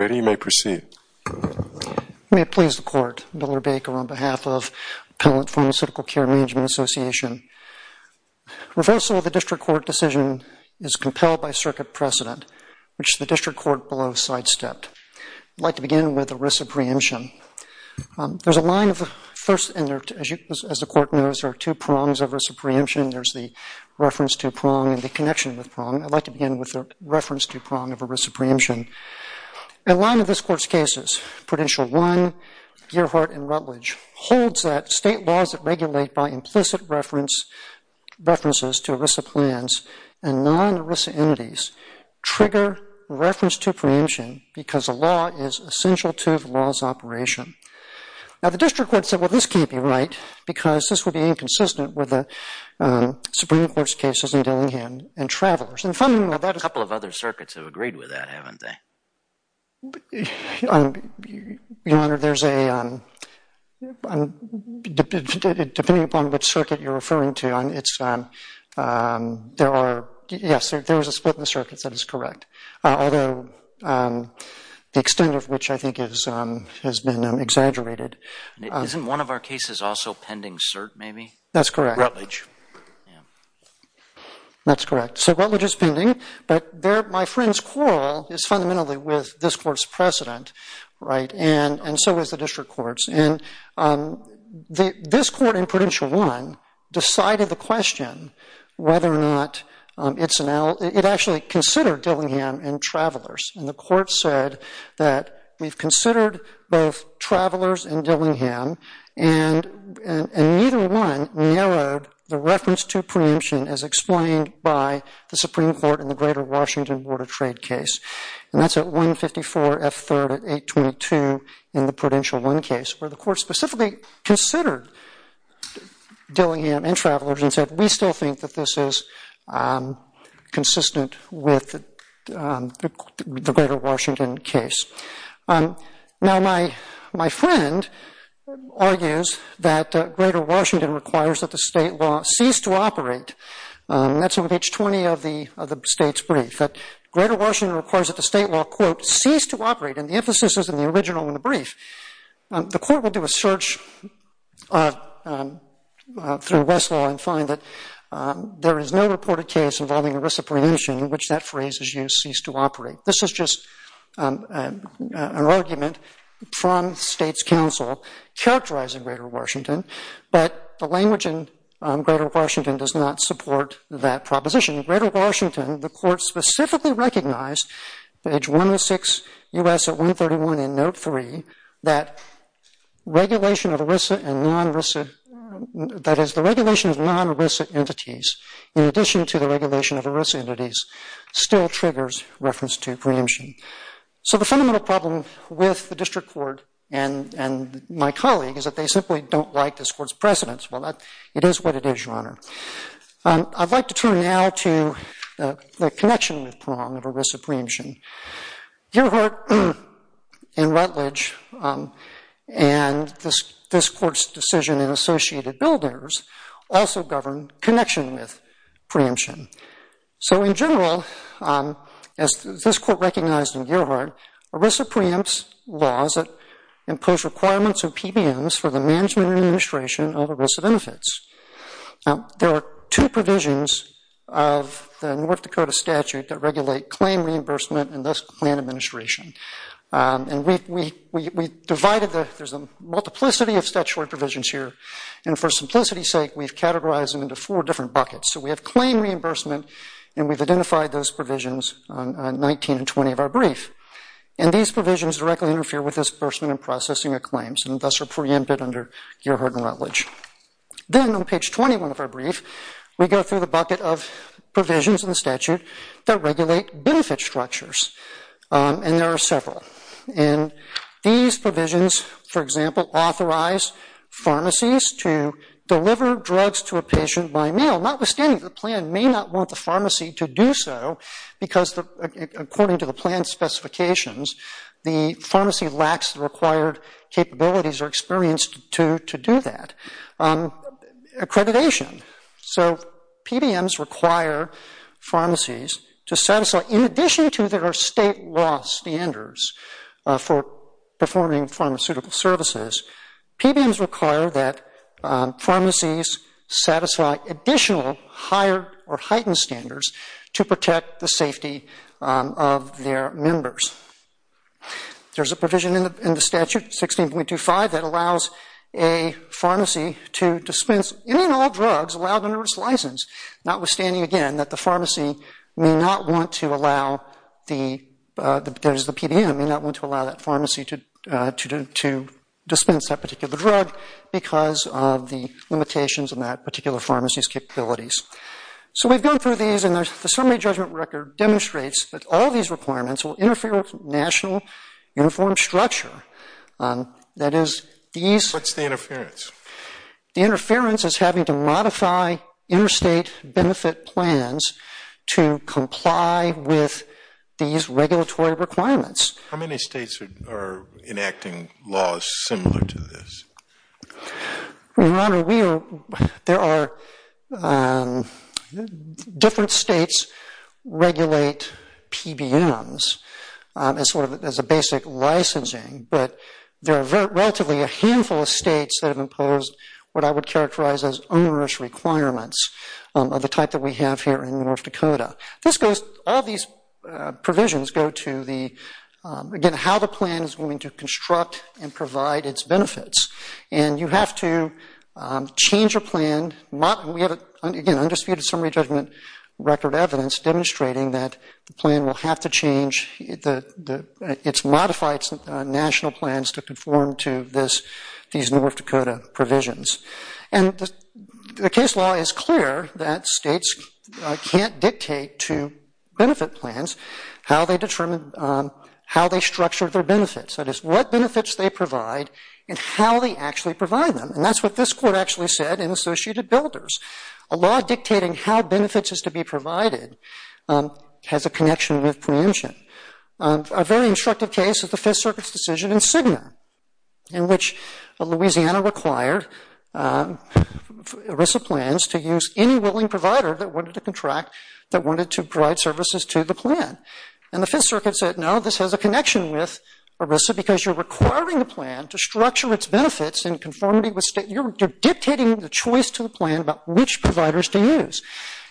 May it please the Court, Miller Baker on behalf of Appellate Pharmaceutical Care Management Association. Reversal of the District Court decision is compelled by circuit precedent, which the District Court below sidestepped. I'd like to begin with the risk of preemption. There's a line of, first, as the Court knows, there are two prongs of risk of preemption. There's the reference to prong and the connection with prong. I'd like to begin with the reference to prong of a risk of preemption. A line of this Court's cases, Prudential 1, Gearhart and Rutledge, holds that state laws that regulate by implicit references to ERISA plans and non-ERISA entities trigger reference to preemption because a law is essential to the law's operation. Now the District Court said, well, this can't be right because this would be inconsistent with the Supreme Court's cases in Dillinghan and Travelers. A couple of other circuits have agreed with that, haven't they? Your Honor, depending upon which circuit you're referring to, yes, there is a split in the circuits that is correct, although the extent of which I think has been exaggerated. Isn't one of our cases also pending cert, maybe? That's correct. Rutledge. Rutledge. Yeah. That's correct. So Rutledge is pending, but my friend's quarrel is fundamentally with this Court's precedent, right? And so is the District Court's. And this Court in Prudential 1 decided the question whether or not it actually considered Dillinghan and Travelers. And the Court said that we've considered both Travelers and Dillinghan, and neither one narrowed the reference to preemption as explained by the Supreme Court in the Greater Washington Border Trade case. And that's at 154 F. 3rd at 822 in the Prudential 1 case, where the Court specifically considered Dillinghan and Travelers and said, we still think that this is consistent with the Greater Washington case. Now, my friend argues that Greater Washington requires that the state law cease to operate. That's on page 20 of the state's brief, that Greater Washington requires that the state law, quote, cease to operate. And the emphasis is in the original in the brief. The Court will do a search through Westlaw and find that there is no reported case involving a reciprocation in which that phrase is used, cease to operate. This is just an argument from the state's counsel characterizing Greater Washington, but the language in Greater Washington does not support that proposition. In Greater Washington, the Court specifically recognized, page 106 U.S. at 131 in note 3, that regulation of ERISA and non-ERISA, that is the regulation of non-ERISA entities, in addition to the regulation of ERISA entities, still triggers reference to preemption. So the fundamental problem with the District Court and my colleague is that they simply don't like this Court's precedence. Well, it is what it is, Your Honor. I'd like to turn now to the connection with prong of ERISA preemption. Gearhart and Rutledge and this Court's decision in Associated Builders also govern connection with preemption. So in general, as this Court recognized in Gearhart, ERISA preempts laws that impose requirements of PBMs for the management and administration of ERISA benefits. Now, there are two provisions of the North Dakota statute that regulate claim reimbursement and thus plan administration. And we divided the – there's a multiplicity of statutory provisions here. And for simplicity's sake, we've categorized them into four different buckets. So we have claim reimbursement and we've identified those provisions on 19 and 20 of our brief. And these provisions directly interfere with disbursement and processing of claims Then on page 21 of our brief, we go through the bucket of provisions in the statute that regulate benefit structures. And there are several. And these provisions, for example, authorize pharmacies to deliver drugs to a patient by mail. Notwithstanding, the plan may not want the pharmacy to do so because according to the plan specifications, the pharmacy lacks the required capabilities or experience to do that. Accreditation. So PBMs require pharmacies to satisfy, in addition to their state law standards for performing pharmaceutical services, PBMs require that pharmacies satisfy additional higher or heightened standards to protect the safety of their members. There's a provision in the statute, 16.25, that allows a pharmacy to dispense any and all drugs allowed under its license. Notwithstanding, again, that the pharmacy may not want to allow, there's the PBM, may not want to allow that pharmacy to dispense that particular drug because of the limitations in that particular pharmacy's capabilities. So we've gone through these and the summary judgment record demonstrates that all these requirements will interfere with national uniform structure. That is, these... What's the interference? The interference is having to modify interstate benefit plans to comply with these regulatory requirements. How many states are enacting laws similar to this? Your Honor, we are, there are, different states regulate PBMs as a basic licensing, but there are relatively a handful of states that have imposed what I would characterize as onerous requirements of the type that we have here in North Dakota. This goes, all these provisions go to the, again, how the plan is going to construct and provide its benefits. And you have to change your plan. We have, again, undisputed summary judgment record evidence demonstrating that the plan will have to change, it's modified national plans to conform to this, these North Dakota provisions. And the case law is clear that states can't dictate to benefit plans how they determine, how they structure their benefits. That is, what benefits they provide and how they actually provide them. And that's what this Court actually said in Associated Builders. A law dictating how benefits is to be provided has a connection with preemption. A very instructive case is the Fifth Circuit's decision in Cigna, in which Louisiana required ERISA plans to use any willing provider that wanted to contract, that wanted to provide services to the plan. And the Fifth Circuit said, no, this has a connection with ERISA, because you're requiring the plan to structure its benefits in conformity with state, you're dictating the choice to the plan about which providers to use.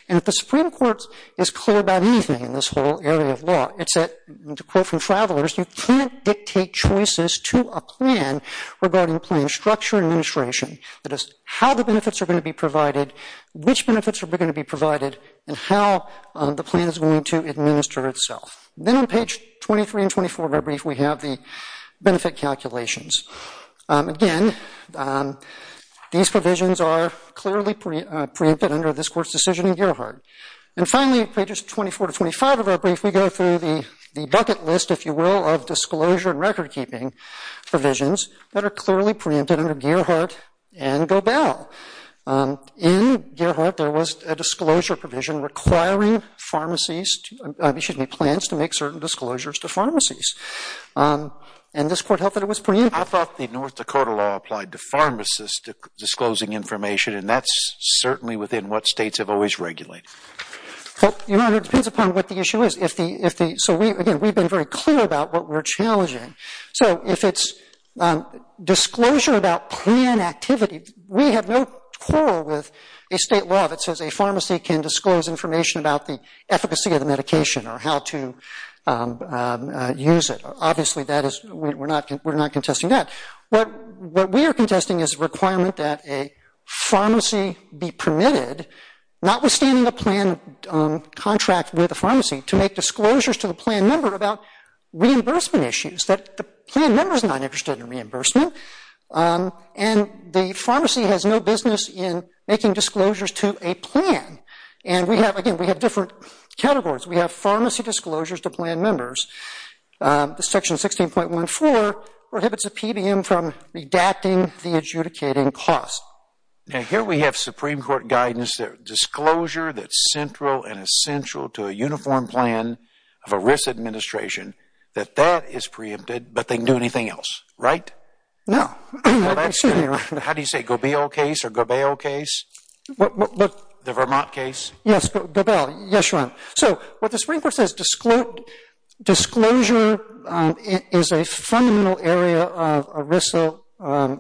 And if the Supreme Court is clear about anything in this whole area of law, it's that, to quote from Travelers, you can't dictate choices to a plan regarding plan structure and administration. That is, how the benefits are going to be provided, which benefits are going to be provided, and how the plan is going to administer itself. Then on page 23 and 24 of our brief, we have the benefit calculations. Again, these provisions are clearly preempted under this Court's decision in Gearhart. And finally, pages 24 to 25 of our brief, we go through the bucket list, if you will, of disclosure and recordkeeping provisions that are clearly preempted under Gearhart and Gobel. In Gearhart, there was a disclosure provision requiring pharmacies, excuse me, plans to make certain disclosures to pharmacies. And this Court held that it was preempted. I thought the North Dakota law applied to pharmacists disclosing information, and that's certainly within what states have always regulated. Your Honor, it depends upon what the issue is. So again, we've been very clear about what we're challenging. So if it's disclosure about plan activity, we have no quarrel with a state law that says a pharmacy can disclose information about the efficacy of the medication or how to use it. Obviously, we're not contesting that. What we are contesting is a requirement that a pharmacy be permitted, notwithstanding a plan contract with a pharmacy, to make disclosures to the plan member about reimbursement issues, that the plan member is not interested in reimbursement. And the pharmacy has no business in making disclosures to a plan. And we have, again, we have different categories. We have pharmacy disclosures to plan members. Section 16.14 prohibits a PBM from redacting the adjudicating cost. Now, here we have Supreme Court guidance that disclosure that's central and essential to a uniform plan of a risk administration, that that is preempted, but they can do anything else, right? No. How do you say it? The Gobeil case or Gobeil case? The Vermont case? Yes, Gobeil. Yes, Your Honor. So what the Supreme Court says, disclosure is a fundamental area of ERISA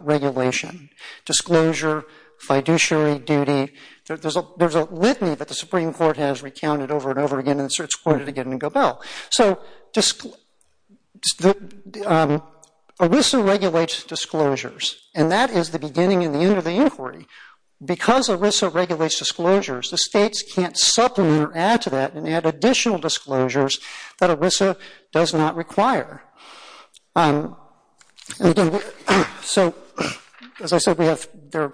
regulation. Disclosure, fiduciary duty, there's a litany that the Supreme Court has recounted over and over again, and it's quoted again in Gobeil. So ERISA regulates disclosures, and that is the beginning and the end of the inquiry. Because ERISA regulates disclosures, the states can't supplement or add to that and add additional disclosures that ERISA does not require. So, as I said, we have the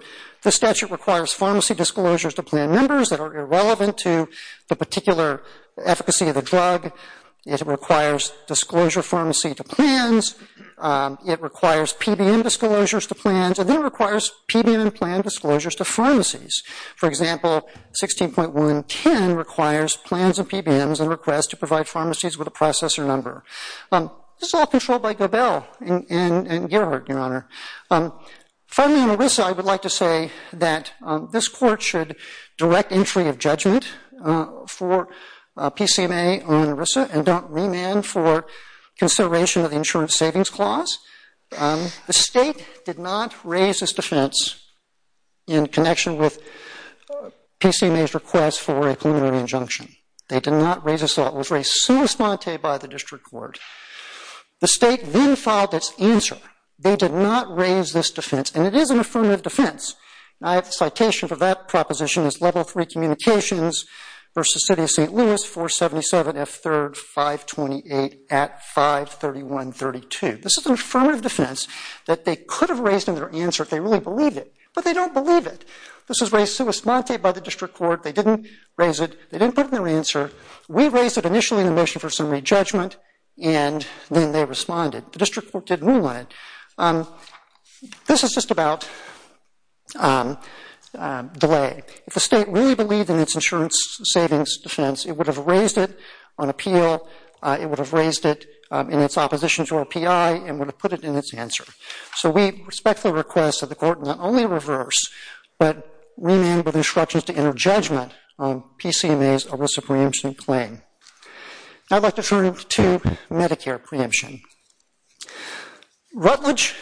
statute requires pharmacy disclosures to plan members that are irrelevant to the particular efficacy of the drug. It requires disclosure pharmacy to plans. It requires PBM disclosures to plans, and then it requires PBM and plan disclosures to pharmacies. For example, 16.110 requires plans and PBMs and requests to provide pharmacies with a processor number. This is all controlled by Gobeil and Gerhardt, Your Honor. Finally on ERISA, I would like to say that this court should direct entry of judgment for PCMA on ERISA and don't remand for consideration of the Insurance Savings Clause. The state did not raise this defense in connection with PCMA's request for a preliminary injunction. They did not raise this law. It was raised sui sponte by the district court. The state then filed its answer. They did not raise this defense, and it is an affirmative defense. I have a citation for that proposition. It's Level 3 Communications v. City of St. Louis, 477 F. 3rd, 528 at 531.32. This is an affirmative defense that they could have raised in their answer if they really believed it, but they don't believe it. This was raised sui sponte by the district court. They didn't raise it. They didn't put it in their answer. We raised it initially in the motion for summary judgment, and then they responded. The district court didn't rule on it. This is just about delay. If the state really believed in its insurance savings defense, it would have raised it on appeal. It would have raised it in its opposition to RPI and would have put it in its answer. So we respectfully request that the court not only reverse, but remand with instructions to enter judgment on PCMA's ERISA preemption claim. Now I'd like to turn to Medicare preemption. Rutledge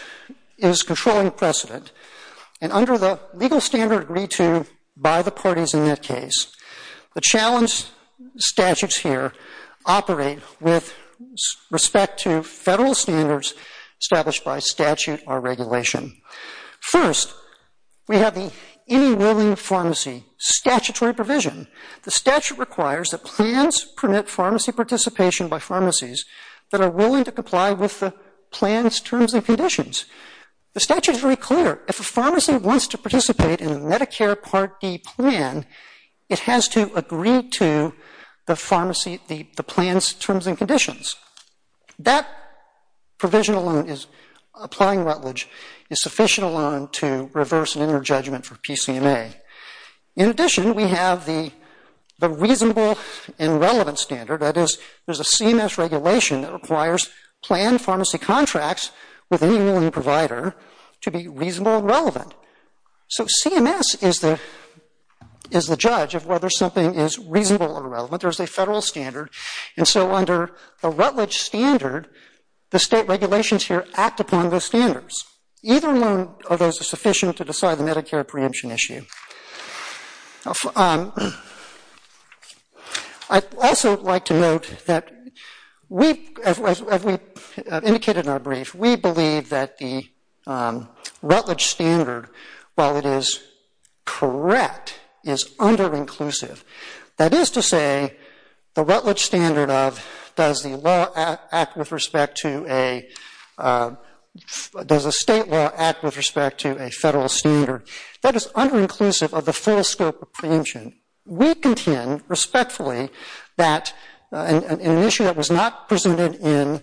is controlling precedent, and under the legal standard agreed to by the parties in that case, the challenge statutes here operate with respect to federal standards established by statute or regulation. First, we have the Any Willing Pharmacy statutory provision. The statute requires that plans permit pharmacy participation by pharmacies that are willing to comply with the plan's terms and conditions. The statute is very clear. If a pharmacy wants to participate in a Medicare Part D plan, it has to agree to the plan's terms and conditions. That provision alone, applying Rutledge, is sufficient alone to reverse and enter judgment for PCMA. In addition, we have the reasonable and relevant standard. That is, there's a CMS regulation that requires planned pharmacy contracts with any willing provider to be reasonable and relevant. So CMS is the judge of whether something is reasonable or relevant. There's a federal standard, and so under the Rutledge standard, the state regulations here act upon those standards. Either alone are those sufficient to decide the Medicare preemption issue. I'd also like to note that, as we indicated in our brief, we believe that the Rutledge standard, while it is correct, is under-inclusive. That is to say, the Rutledge standard of does a state law act with respect to a federal standard, that is under-inclusive of the full scope of preemption. We contend, respectfully, that in an issue that was not presented in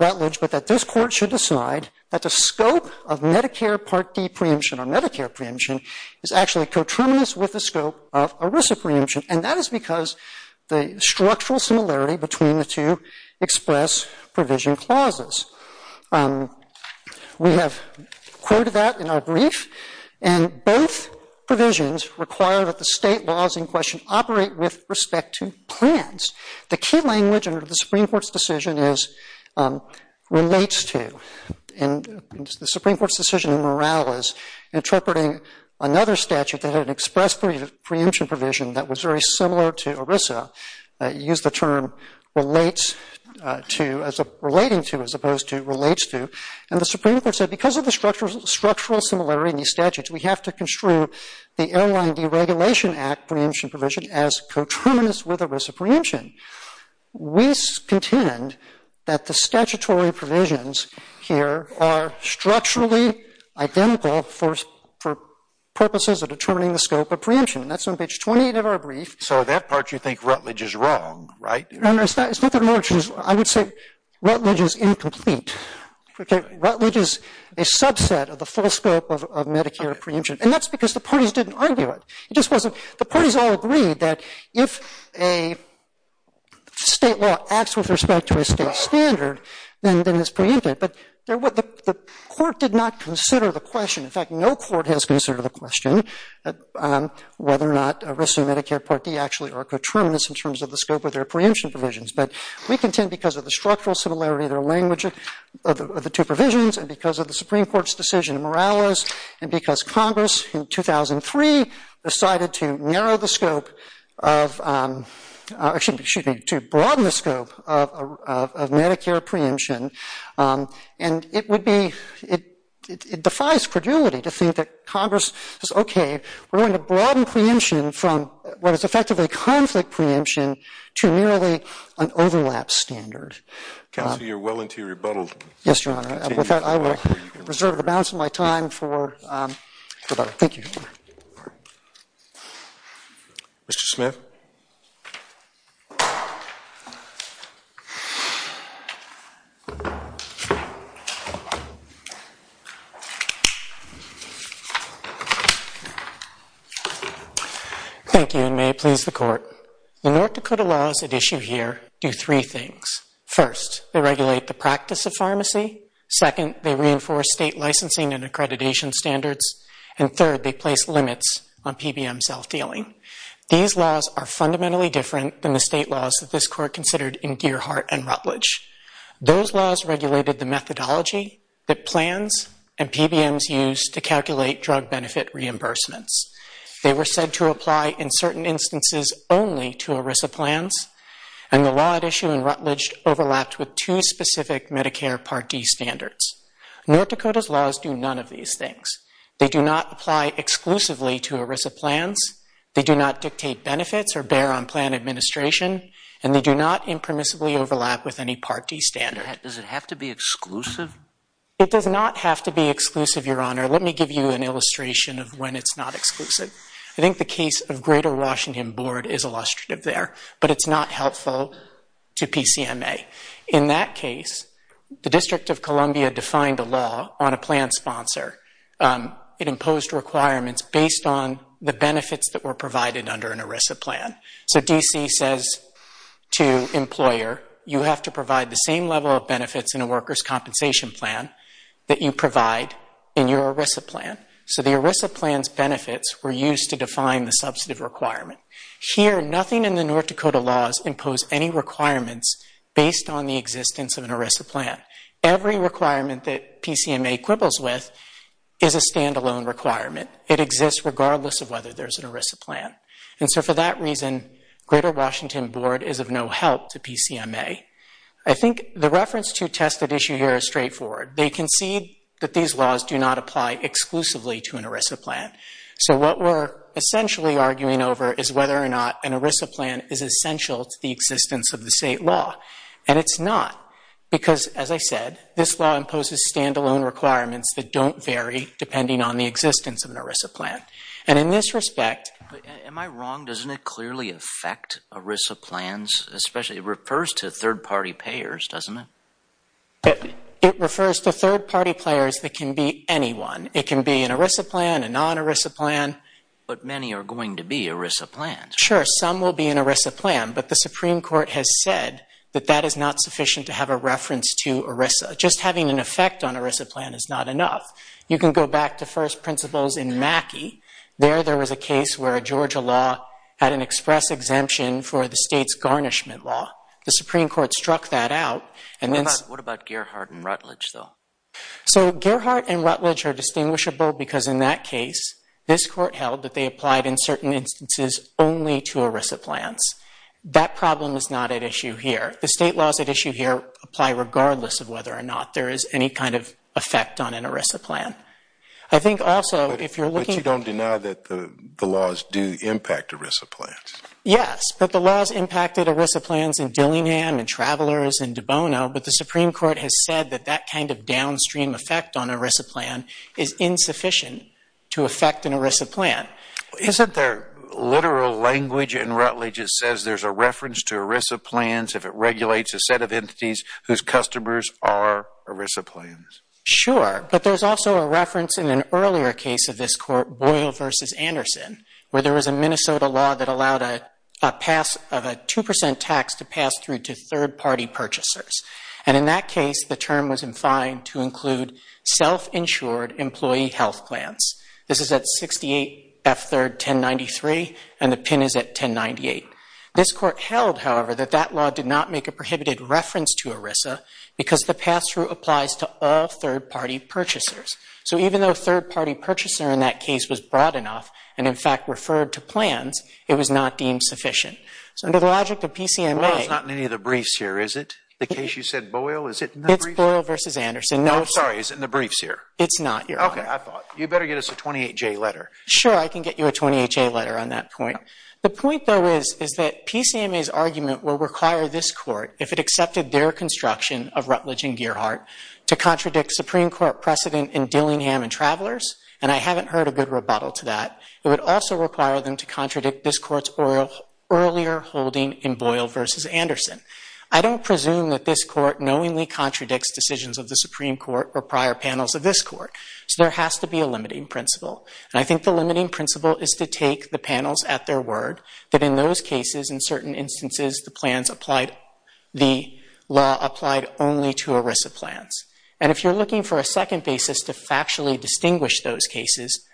Rutledge, but that this Court should decide that the scope of Medicare Part D preemption or Medicare preemption is actually coterminous with the scope of ERISA preemption, and that is because the structural similarity between the two express provision clauses. We have quoted that in our brief, and both provisions require that the state laws in question operate with respect to plans. The key language under the Supreme Court's decision relates to, in the Supreme Court's decision in Morales, interpreting another statute that had an express preemption provision that was very similar to ERISA, used the term relates to as a relating to as opposed to relates to, and the Supreme Court said because of the structural similarity in these statutes, we have to construe the Airline Deregulation Act preemption provision as coterminous with ERISA preemption. We contend that the statutory provisions here are structurally identical for purposes of determining the scope of preemption. That's on page 28 of our brief. So that part you think Rutledge is wrong, right? It's not that I'm wrong. I would say Rutledge is incomplete. Rutledge is a subset of the full scope of Medicare preemption, and that's because the parties didn't argue it. The parties all agreed that if a state law acts with respect to a state standard, then it's preempted, but the court did not consider the question. In fact, no court has considered the question whether or not ERISA and Medicare Part D actually are coterminous in terms of the scope of their preemption provisions, but we contend because of the structural similarity of their language of the two provisions and because of the Supreme Court's decision in Morales and because Congress in 2003 decided to narrow the scope of ‑‑ excuse me, to broaden the scope of Medicare preemption, and it would be ‑‑ it defies credulity to think that Congress says, okay, we're going to broaden preemption from what is effectively conflict preemption to merely an overlap standard. Counsel, you're well into your rebuttal. Yes, Your Honor. With that, I will reserve the balance of my time for the rebuttal. Thank you, Your Honor. Mr. Smith. Thank you, and may it please the Court. The North Dakota laws at issue here do three things. First, they regulate the practice of pharmacy. Second, they reinforce state licensing and accreditation standards. And third, they place limits on PBM self‑dealing. These laws are fundamentally different than the state laws that this Court considered in Gearhart and Rutledge. Those laws regulated the methodology that plans and PBMs use to calculate drug benefit reimbursements. They were said to apply in certain instances only to ERISA plans, and the law at issue in Rutledge overlapped with two specific Medicare Part D standards. North Dakota's laws do none of these things. They do not apply exclusively to ERISA plans, they do not dictate benefits or bear on plan administration, and they do not impermissibly overlap with any Part D standard. Does it have to be exclusive? It does not have to be exclusive, Your Honor. Let me give you an illustration of when it's not exclusive. I think the case of Greater Washington Board is illustrative there, but it's not helpful to PCMA. In that case, the District of Columbia defined a law on a plan sponsor. It imposed requirements based on the benefits that were provided under an ERISA plan. So DC says to employer, you have to provide the same level of benefits in a workers' compensation plan that you provide in your ERISA plan. So the ERISA plan's benefits were used to define the substantive requirement. Here, nothing in the North Dakota laws impose any requirements based on the existence of an ERISA plan. Every requirement that PCMA quibbles with is a standalone requirement. It exists regardless of whether there's an ERISA plan. And so for that reason, Greater Washington Board is of no help to PCMA. I think the reference to tested issue here is straightforward. They concede that these laws do not apply exclusively to an ERISA plan. So what we're essentially arguing over is whether or not an ERISA plan is essential to the existence of the state law. And it's not because, as I said, this law imposes standalone requirements that don't vary depending on the existence of an ERISA plan. And in this respect... Am I wrong? Doesn't it clearly affect ERISA plans? It refers to third-party payers, doesn't it? It refers to third-party players that can be anyone. It can be an ERISA plan, a non-ERISA plan. But many are going to be ERISA plans. Sure, some will be an ERISA plan, but the Supreme Court has said that that is not sufficient to have a reference to ERISA. Just having an effect on an ERISA plan is not enough. You can go back to first principles in Mackey. There, there was a case where a Georgia law had an express exemption for the state's garnishment law. The Supreme Court struck that out. What about Gearhart and Rutledge, though? So Gearhart and Rutledge are distinguishable because in that case, this Court held that they applied in certain instances only to ERISA plans. That problem is not at issue here. The state laws at issue here apply regardless of whether or not there is any kind of effect on an ERISA plan. I think also, if you're looking... But you don't deny that the laws do impact ERISA plans? Yes, but the laws impacted ERISA plans in Dillingham and Travelers and Dubona, but the Supreme Court has said that that kind of downstream effect on an ERISA plan is insufficient to affect an ERISA plan. Isn't there literal language in Rutledge that says there's a reference to ERISA plans if it regulates a set of entities whose customers are ERISA plans? Sure, but there's also a reference in an earlier case of this Court, Boyle v. Anderson, where there was a Minnesota law that allowed a pass of a 2% tax to pass through to third-party purchasers. And in that case, the term was in fine to include self-insured employee health plans. This is at 68 F. 3rd. 1093, and the pin is at 1098. This Court held, however, that that law did not make a prohibited reference to ERISA because the pass-through applies to all third-party purchasers. So even though a third-party purchaser in that case was broad enough and, in fact, referred to plans, it was not deemed sufficient. So under the logic of PCMA... Boyle is not in any of the briefs here, is it? The case you said, Boyle, is it in the briefs? It's Boyle v. Anderson. No, sorry, it's in the briefs here. It's not, Your Honor. Okay, I thought. You better get us a 28-J letter. Sure, I can get you a 28-J letter on that point. The point, though, is that PCMA's argument will require this Court, if it accepted their construction of Rutledge and Gearhart, to contradict Supreme Court precedent in Dillingham and Travelers, and I haven't heard a good rebuttal to that. It would also require them to contradict this Court's earlier holding in Boyle v. Anderson. I don't presume that this Court knowingly contradicts decisions of the Supreme Court or prior panels of this Court, so there has to be a limiting principle. And I think the limiting principle is to take the panels at their word, that in those cases, in certain instances, the law applied only to ERISA plans. And if you're looking for a second basis to factually distinguish those cases,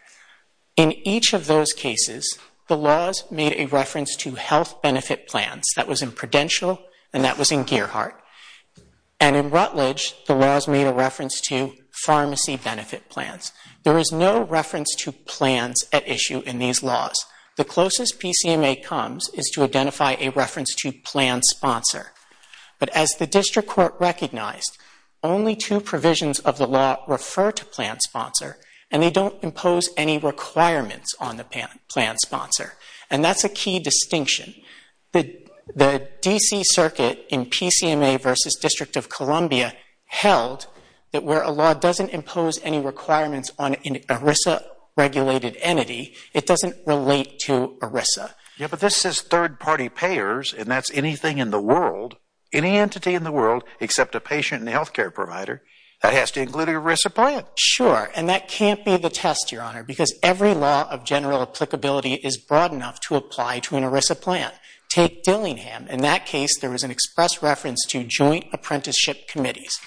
in each of those cases, the laws made a reference to health benefit plans. That was in Prudential, and that was in Gearhart. And in Rutledge, the laws made a reference to pharmacy benefit plans. There is no reference to plans at issue in these laws. The closest PCMA comes is to identify a reference to plan sponsor. But as the District Court recognized, only two provisions of the law refer to plan sponsor, and they don't impose any requirements on the plan sponsor. And that's a key distinction. The D.C. Circuit in PCMA v. District of Columbia held that where a law doesn't impose any requirements on an ERISA-regulated entity, it doesn't relate to ERISA. Yeah, but this says third-party payers, and that's anything in the world, any entity in the world except a patient and health care provider, that has to include an ERISA plan. Sure, and that can't be the test, Your Honor, because every law of general applicability is broad enough to apply to an ERISA plan. Take Dillingham. In that case, there was an express reference to joint apprenticeship committees.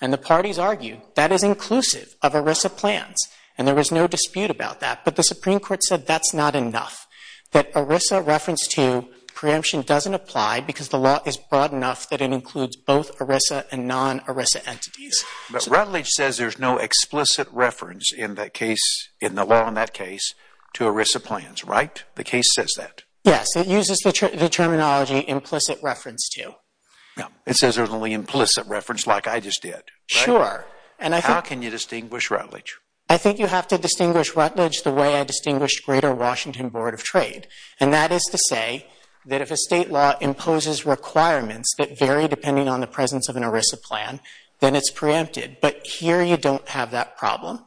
And the parties argue that is inclusive of ERISA plans, and there was no dispute about that. But the Supreme Court said that's not enough, that ERISA reference to preemption doesn't apply because the law is broad enough that it includes both ERISA and non-ERISA entities. But Rutledge says there's no explicit reference in that case, in the law in that case, to ERISA plans, right? The case says that. Yes, it uses the terminology implicit reference to. It says there's only implicit reference like I just did, right? Sure. How can you distinguish Rutledge? I think you have to distinguish Rutledge the way I distinguished Greater Washington Board of Trade, and that is to say that if a state law imposes requirements that vary depending on the presence of an ERISA plan, then it's preempted. But here you don't have that problem.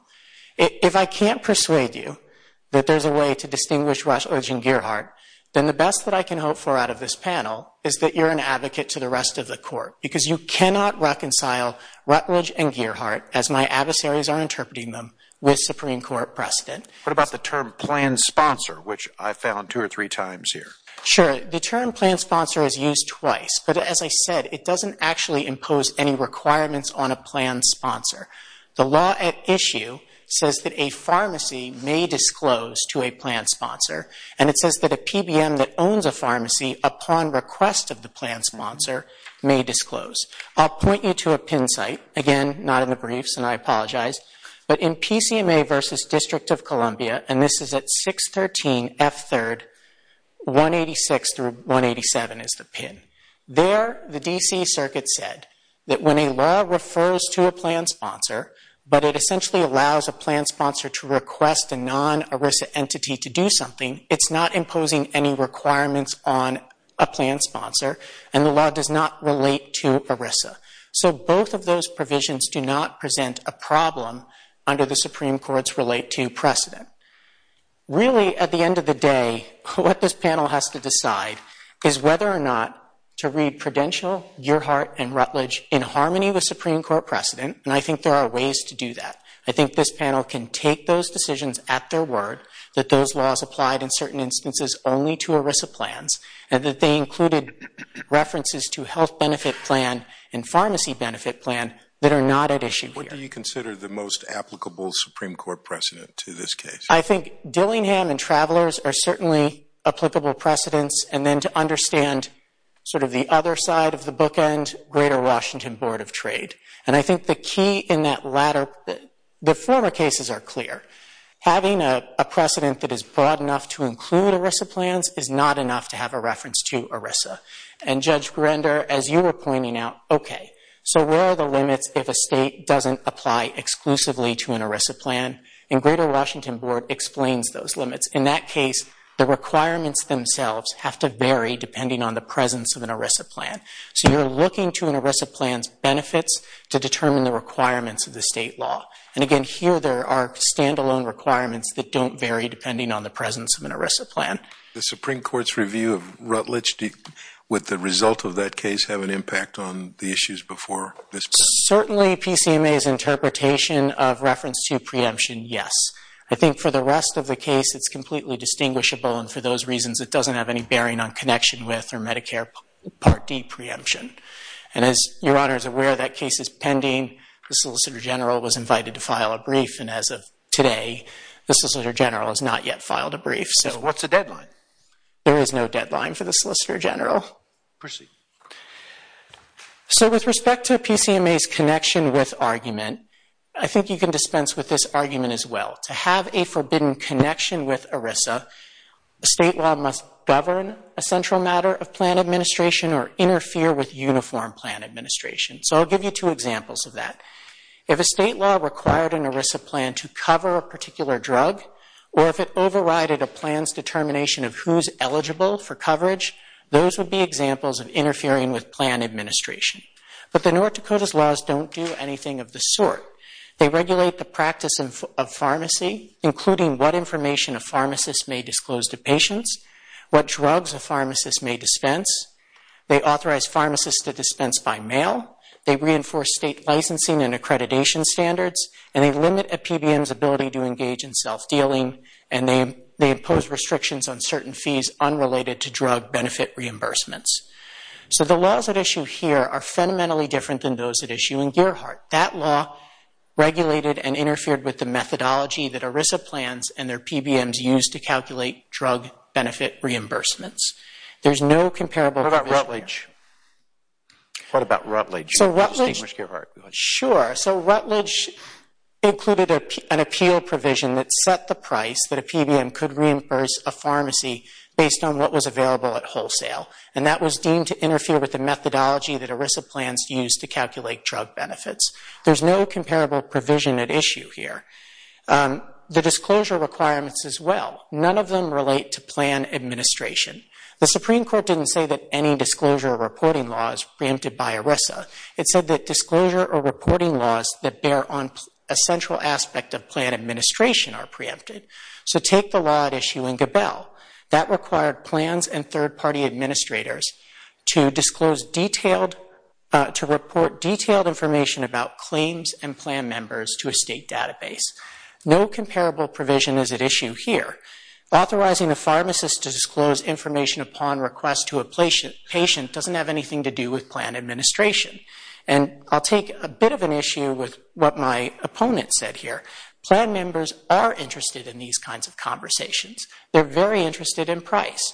If I can't persuade you that there's a way to distinguish Rutledge and Gearhart, then the best that I can hope for out of this panel is that you're an advocate to the rest of the court because you cannot reconcile Rutledge and Gearhart, as my adversaries are interpreting them, with Supreme Court precedent. What about the term plan sponsor, which I found two or three times here? Sure. The term plan sponsor is used twice. But as I said, it doesn't actually impose any requirements on a plan sponsor. The law at issue says that a pharmacy may disclose to a plan sponsor, and it says that a PBM that owns a pharmacy upon request of the plan sponsor may disclose. I'll point you to a PIN site. Again, not in the briefs, and I apologize. But in PCMA versus District of Columbia, and this is at 613 F3rd, 186 through 187 is the PIN. There, the D.C. Circuit said that when a law refers to a plan sponsor, but it essentially allows a plan sponsor to request a non-ERISA entity to do something, it's not imposing any requirements on a plan sponsor, and the law does not relate to ERISA. So both of those provisions do not present a problem under the Supreme Court's relate to precedent. Really, at the end of the day, what this panel has to decide is whether or not to read Prudential, Gerhart, and Rutledge in harmony with Supreme Court precedent, and I think there are ways to do that. I think this panel can take those decisions at their word, that those laws applied in certain instances only to ERISA plans, and that they included references to health benefit plan and pharmacy benefit plan that are not at issue here. What do you consider the most applicable Supreme Court precedent to this case? I think Dillingham and Travelers are certainly applicable precedents, and then to understand sort of the other side of the bookend, Greater Washington Board of Trade, and I think the key in that latter, the former cases are clear. Having a precedent that is broad enough to include ERISA plans is not enough to have a reference to ERISA, and Judge Grinder, as you were pointing out, okay, so where are the limits if a state doesn't apply exclusively to an ERISA plan? And Greater Washington Board explains those limits. In that case, the requirements themselves have to vary depending on the presence of an ERISA plan. So you're looking to an ERISA plan's benefits to determine the requirements of the state law. And again, here there are standalone requirements that don't vary depending on the presence of an ERISA plan. The Supreme Court's review of Rutledge with the result of that case have an impact on the issues before this point? Certainly PCMA's interpretation of reference to preemption, yes. I think for the rest of the case it's completely distinguishable, and for those reasons it doesn't have any bearing on connection with or Medicare Part D preemption. And as Your Honor is aware, that case is pending. The Solicitor General was invited to file a brief, and as of today the Solicitor General has not yet filed a brief. So what's the deadline? There is no deadline for the Solicitor General. Proceed. So with respect to PCMA's connection with argument, I think you can dispense with this argument as well. To have a forbidden connection with ERISA, the state law must govern a central matter of plan administration or interfere with uniform plan administration. So I'll give you two examples of that. If a state law required an ERISA plan to cover a particular drug, or if it overrided a plan's determination of who's eligible for coverage, those would be examples of interfering with plan administration. But the North Dakota's laws don't do anything of the sort. They regulate the practice of pharmacy, including what information a pharmacist may disclose to patients, what drugs a pharmacist may dispense, they authorize pharmacists to dispense by mail, they reinforce state licensing and accreditation standards, and they limit a PBM's ability to engage in self-dealing, and they impose restrictions on certain fees unrelated to drug benefit reimbursements. So the laws at issue here are fundamentally different than those at issue in Gearhart. That law regulated and interfered with the methodology that ERISA plans and their PBMs use to calculate drug benefit reimbursements. There's no comparable provision here. What about Rutledge? Sure, so Rutledge included an appeal provision that set the price that a PBM could reimburse a pharmacy based on what was available at wholesale, and that was deemed to interfere with the methodology that ERISA plans use to calculate drug benefits. There's no comparable provision at issue here. The disclosure requirements as well, none of them relate to plan administration. The Supreme Court didn't say that any disclosure or reporting law is preempted by ERISA. It said that disclosure or reporting laws that bear on a central aspect of plan administration are preempted. So take the law at issue in Gabelle. That required plans and third-party administrators to report detailed information about claims and plan members to a state database. No comparable provision is at issue here. Authorizing a pharmacist to disclose information upon request to a patient doesn't have anything to do with plan administration. And I'll take a bit of an issue with what my opponent said here. Plan members are interested in these kinds of conversations. They're very interested in price.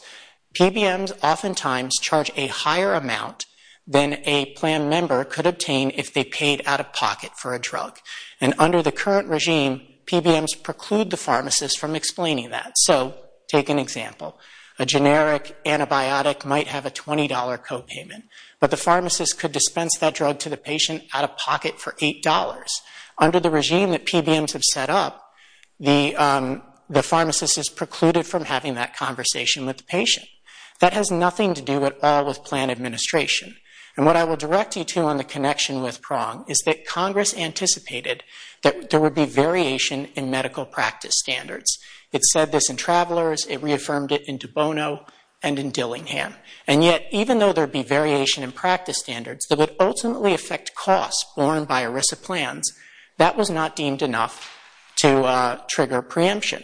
PBMs oftentimes charge a higher amount than a plan member could obtain if they paid out-of-pocket for a drug. And under the current regime, PBMs preclude the pharmacist from explaining that. So take an example. A generic antibiotic might have a $20 copayment, but the pharmacist could dispense that drug to the patient out-of-pocket for $8. Under the regime that PBMs have set up, the pharmacist is precluded from having that conversation with the patient. That has nothing to do at all with plan administration. And what I will direct you to on the connection with Prong is that Congress anticipated that there would be variation in medical practice standards. It said this in Travelers. It reaffirmed it in De Bono and in Dillingham. And yet, even though there would be variation in practice standards that would ultimately affect costs borne by ERISA plans, that was not deemed enough to trigger preemption.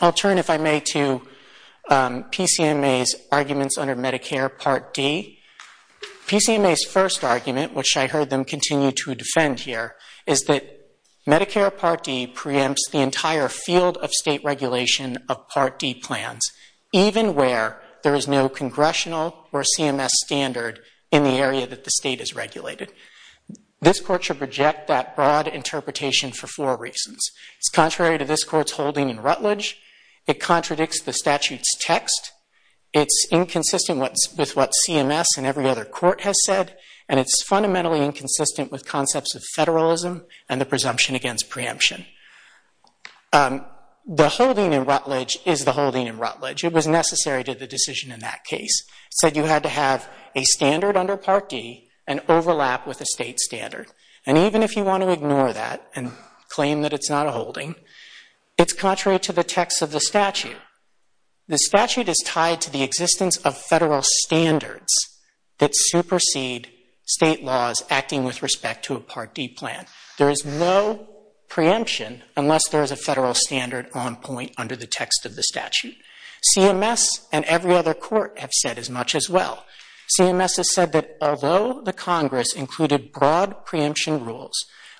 I'll turn, if I may, to PCMA's arguments under Medicare Part D. PCMA's first argument, which I heard them continue to defend here, is that Medicare Part D preempts the entire field of state regulation of Part D plans, even where there is no congressional or CMS standard in the area that the state has regulated. This Court should reject that broad interpretation for four reasons. It's contrary to this Court's holding in Rutledge. It contradicts the statute's text. It's inconsistent with what CMS and every other court has said, and it's fundamentally inconsistent with concepts of federalism and the presumption against preemption. The holding in Rutledge is the holding in Rutledge. It was necessary to the decision in that case. It said you had to have a standard under Part D and overlap with a state standard. And even if you want to ignore that and claim that it's not a holding, it's contrary to the text of the statute. The statute is tied to the existence of federal standards that supersede state laws acting with respect to a Part D plan. There is no preemption unless there is a federal standard on point under the text of the statute. CMS and every other court have said as much as well. CMS has said that although the Congress included broad preemption rules,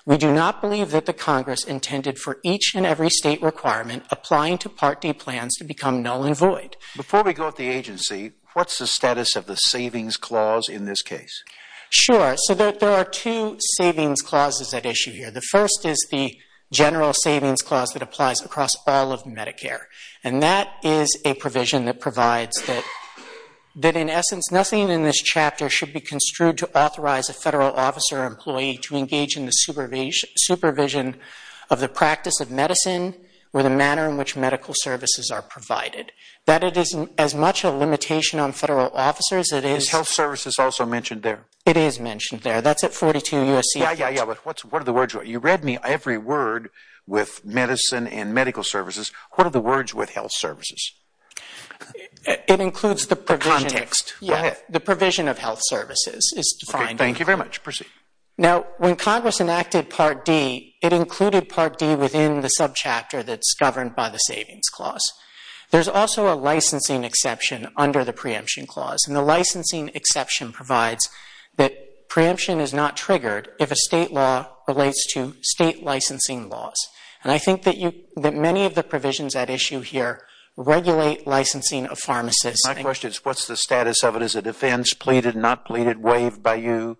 we do not believe that the Congress intended for each and every state requirement applying to Part D plans to become null and void. Before we go to the agency, what's the status of the savings clause in this case? Sure. So there are two savings clauses at issue here. The first is the general savings clause that applies across all of Medicare, and that is a provision that provides that, in essence, nothing in this chapter should be construed to authorize a federal officer or employee to engage in the supervision of the practice of medicine or the manner in which medical services are provided. That it is as much a limitation on federal officers as it is... Is health services also mentioned there? It is mentioned there. That's at 42 U.S.C. Yeah, yeah, yeah, but what are the words? You read me every word with medicine and medical services. What are the words with health services? It includes the provision... The context. Go ahead. The provision of health services is defined. Okay. Thank you very much. Proceed. Now, when Congress enacted Part D, it included Part D within the subchapter that's governed by the savings clause. There's also a licensing exception under the preemption clause, and the licensing exception provides that preemption is not triggered if a state law relates to state licensing laws. And I think that many of the provisions at issue here regulate licensing of pharmacists. My question is, what's the status of it? Is it offense, pleaded, not pleaded, waived by you?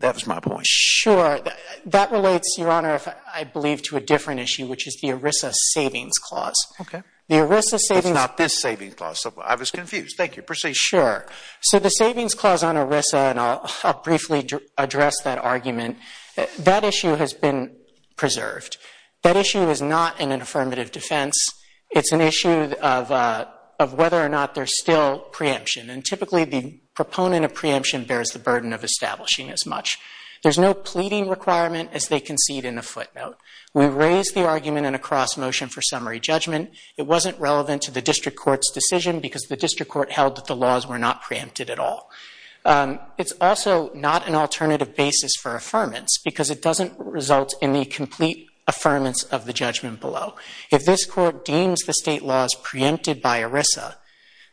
That was my point. Sure. That relates, Your Honor, I believe, to a different issue, which is the ERISA savings clause. Okay. The ERISA savings... It's not this savings clause. I was confused. Thank you. Proceed. Sure. So the savings clause on ERISA, and I'll briefly address that argument, that issue has been preserved. That issue is not in an affirmative defense. It's an issue of whether or not there's still preemption, and typically the proponent of preemption bears the burden of establishing as much. There's no pleading requirement as they concede in a footnote. We raised the argument in a cross-motion for summary judgment. It wasn't relevant to the district court's decision because the district court held that the laws were not preempted at all. It's also not an alternative basis for affirmance because it doesn't result in the complete affirmance of the judgment below. If this court deems the state law as preempted by ERISA,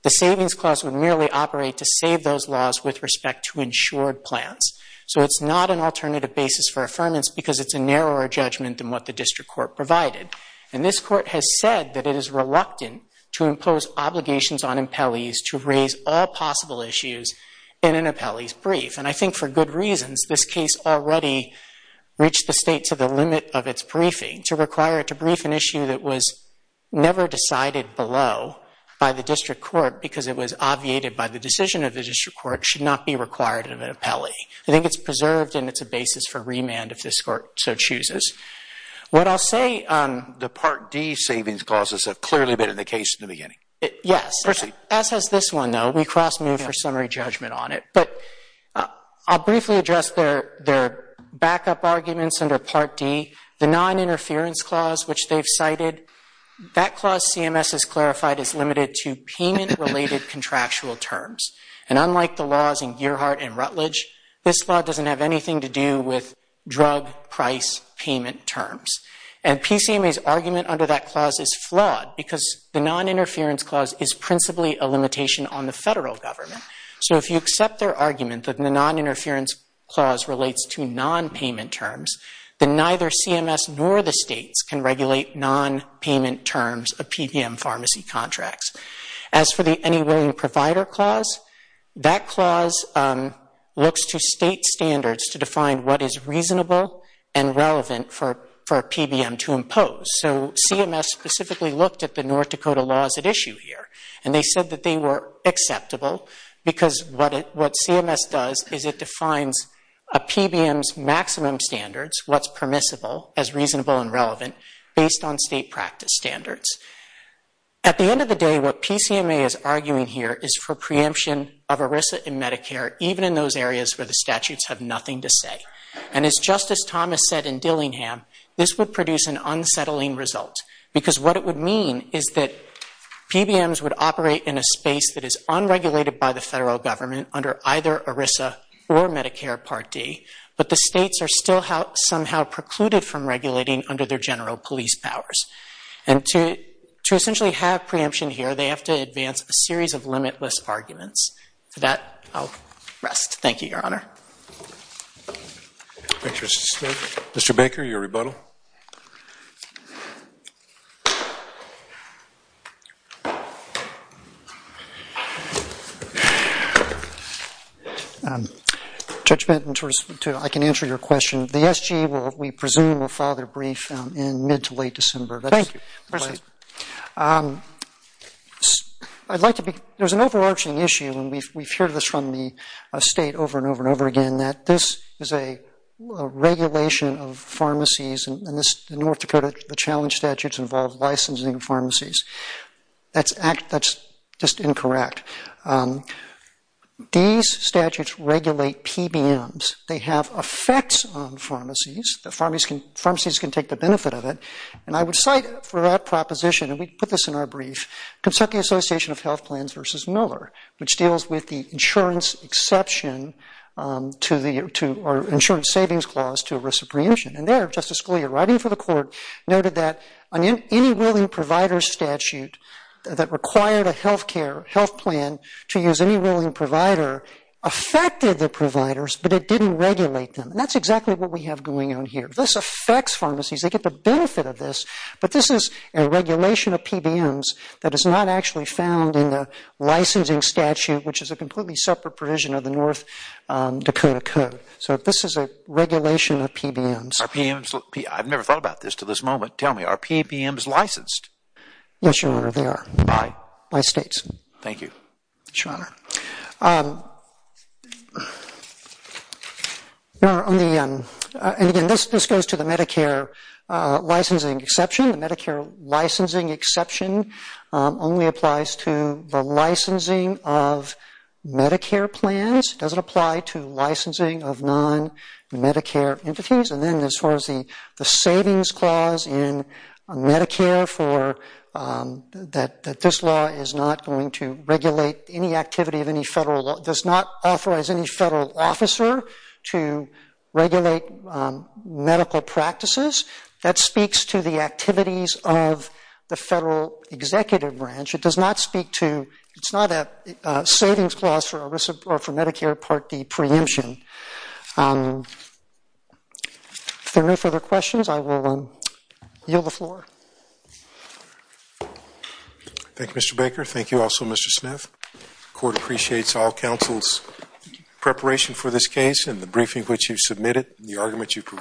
the savings clause would merely operate to save those laws with respect to insured plans. So it's not an alternative basis for affirmance because it's a narrower judgment than what the district court provided. And this court has said that it is reluctant to impose obligations on appellees to raise all possible issues in an appellee's brief. And I think for good reasons, this case already reached the state to the limit of its briefing to require it to brief an issue that was never decided below by the district court because it was obviated by the decision of the district court should not be required of an appellee. I think it's preserved and it's a basis for remand if this court so chooses. What I'll say... The Part D savings clauses have clearly been in the case in the beginning. Yes. Proceed. As has this one, though. We cross-moved for summary judgment on it. But I'll briefly address their backup arguments under Part D. The noninterference clause, which they've cited, that clause CMS has clarified is limited to payment-related contractual terms. And unlike the laws in Gearhart and Rutledge, this law doesn't have anything to do with drug price payment terms. And PCMA's argument under that clause is flawed because the noninterference clause is principally a limitation on the federal government. So if you accept their argument that the noninterference clause relates to nonpayment terms, then neither CMS nor the states can regulate nonpayment terms of PBM pharmacy contracts. As for the Any Willing Provider clause, that clause looks to state standards to define what is reasonable and relevant for a PBM to impose. So CMS specifically looked at the North Dakota laws at issue here, and they said that they were acceptable because what CMS does is it defines a PBM's maximum standards, what's permissible as reasonable and relevant, based on state practice standards. At the end of the day, what PCMA is arguing here is for preemption of ERISA and Medicare, even in those areas where the statutes have nothing to say. And as Justice Thomas said in Dillingham, this would produce an unsettling result because what it would mean is that PBMs would operate in a space that is unregulated by the federal government under either ERISA or Medicare Part D, but the states are still somehow precluded from regulating under their general police powers. And to essentially have preemption here, they have to advance a series of limitless arguments. For that, I'll rest. Thank you, Your Honor. Thank you, Mr. Smith. Mr. Baker, your rebuttal. Judge Benton, I can answer your question. The SG, we presume, will file their brief in mid to late December. Thank you. There's an overarching issue, and we've heard this from the state over and over and over again, that this is a regulation of pharmacies, and the North Dakota challenge statutes involve licensing of pharmacies. That's just incorrect. These statutes regulate PBMs. They have effects on pharmacies. Pharmacies can take the benefit of it. And I would cite for that proposition, and we put this in our brief, Kentucky Association of Health Plans v. Miller, which deals with the insurance exception or insurance savings clause to a risk of preemption. And there, Justice Scalia, writing for the court, noted that any willing provider statute that required a health plan to use any willing provider affected the providers, but it didn't regulate them. And that's exactly what we have going on here. This affects pharmacies. They get the benefit of this, but this is a regulation of PBMs that is not actually found in the licensing statute, which is a completely separate provision of the North Dakota Code. So this is a regulation of PBMs. I've never thought about this to this moment. Tell me, are PBMs licensed? Thank you. Yes, Your Honor. Your Honor, and again, this goes to the Medicare licensing exception. The Medicare licensing exception only applies to the licensing of Medicare plans. It doesn't apply to licensing of non-Medicare entities. And then as far as the savings clause in Medicare that this law is not going to regulate any activity of any federal law, does not authorize any federal officer to regulate medical practices, that speaks to the activities of the federal executive branch. It does not speak to, it's not a savings clause for Medicare Part D preemption. If there are no further questions, I will yield the floor. Thank you, Mr. Baker. Thank you also, Mr. Smith. The court appreciates all counsel's preparation for this case and the briefing which you submitted and the argument you provided.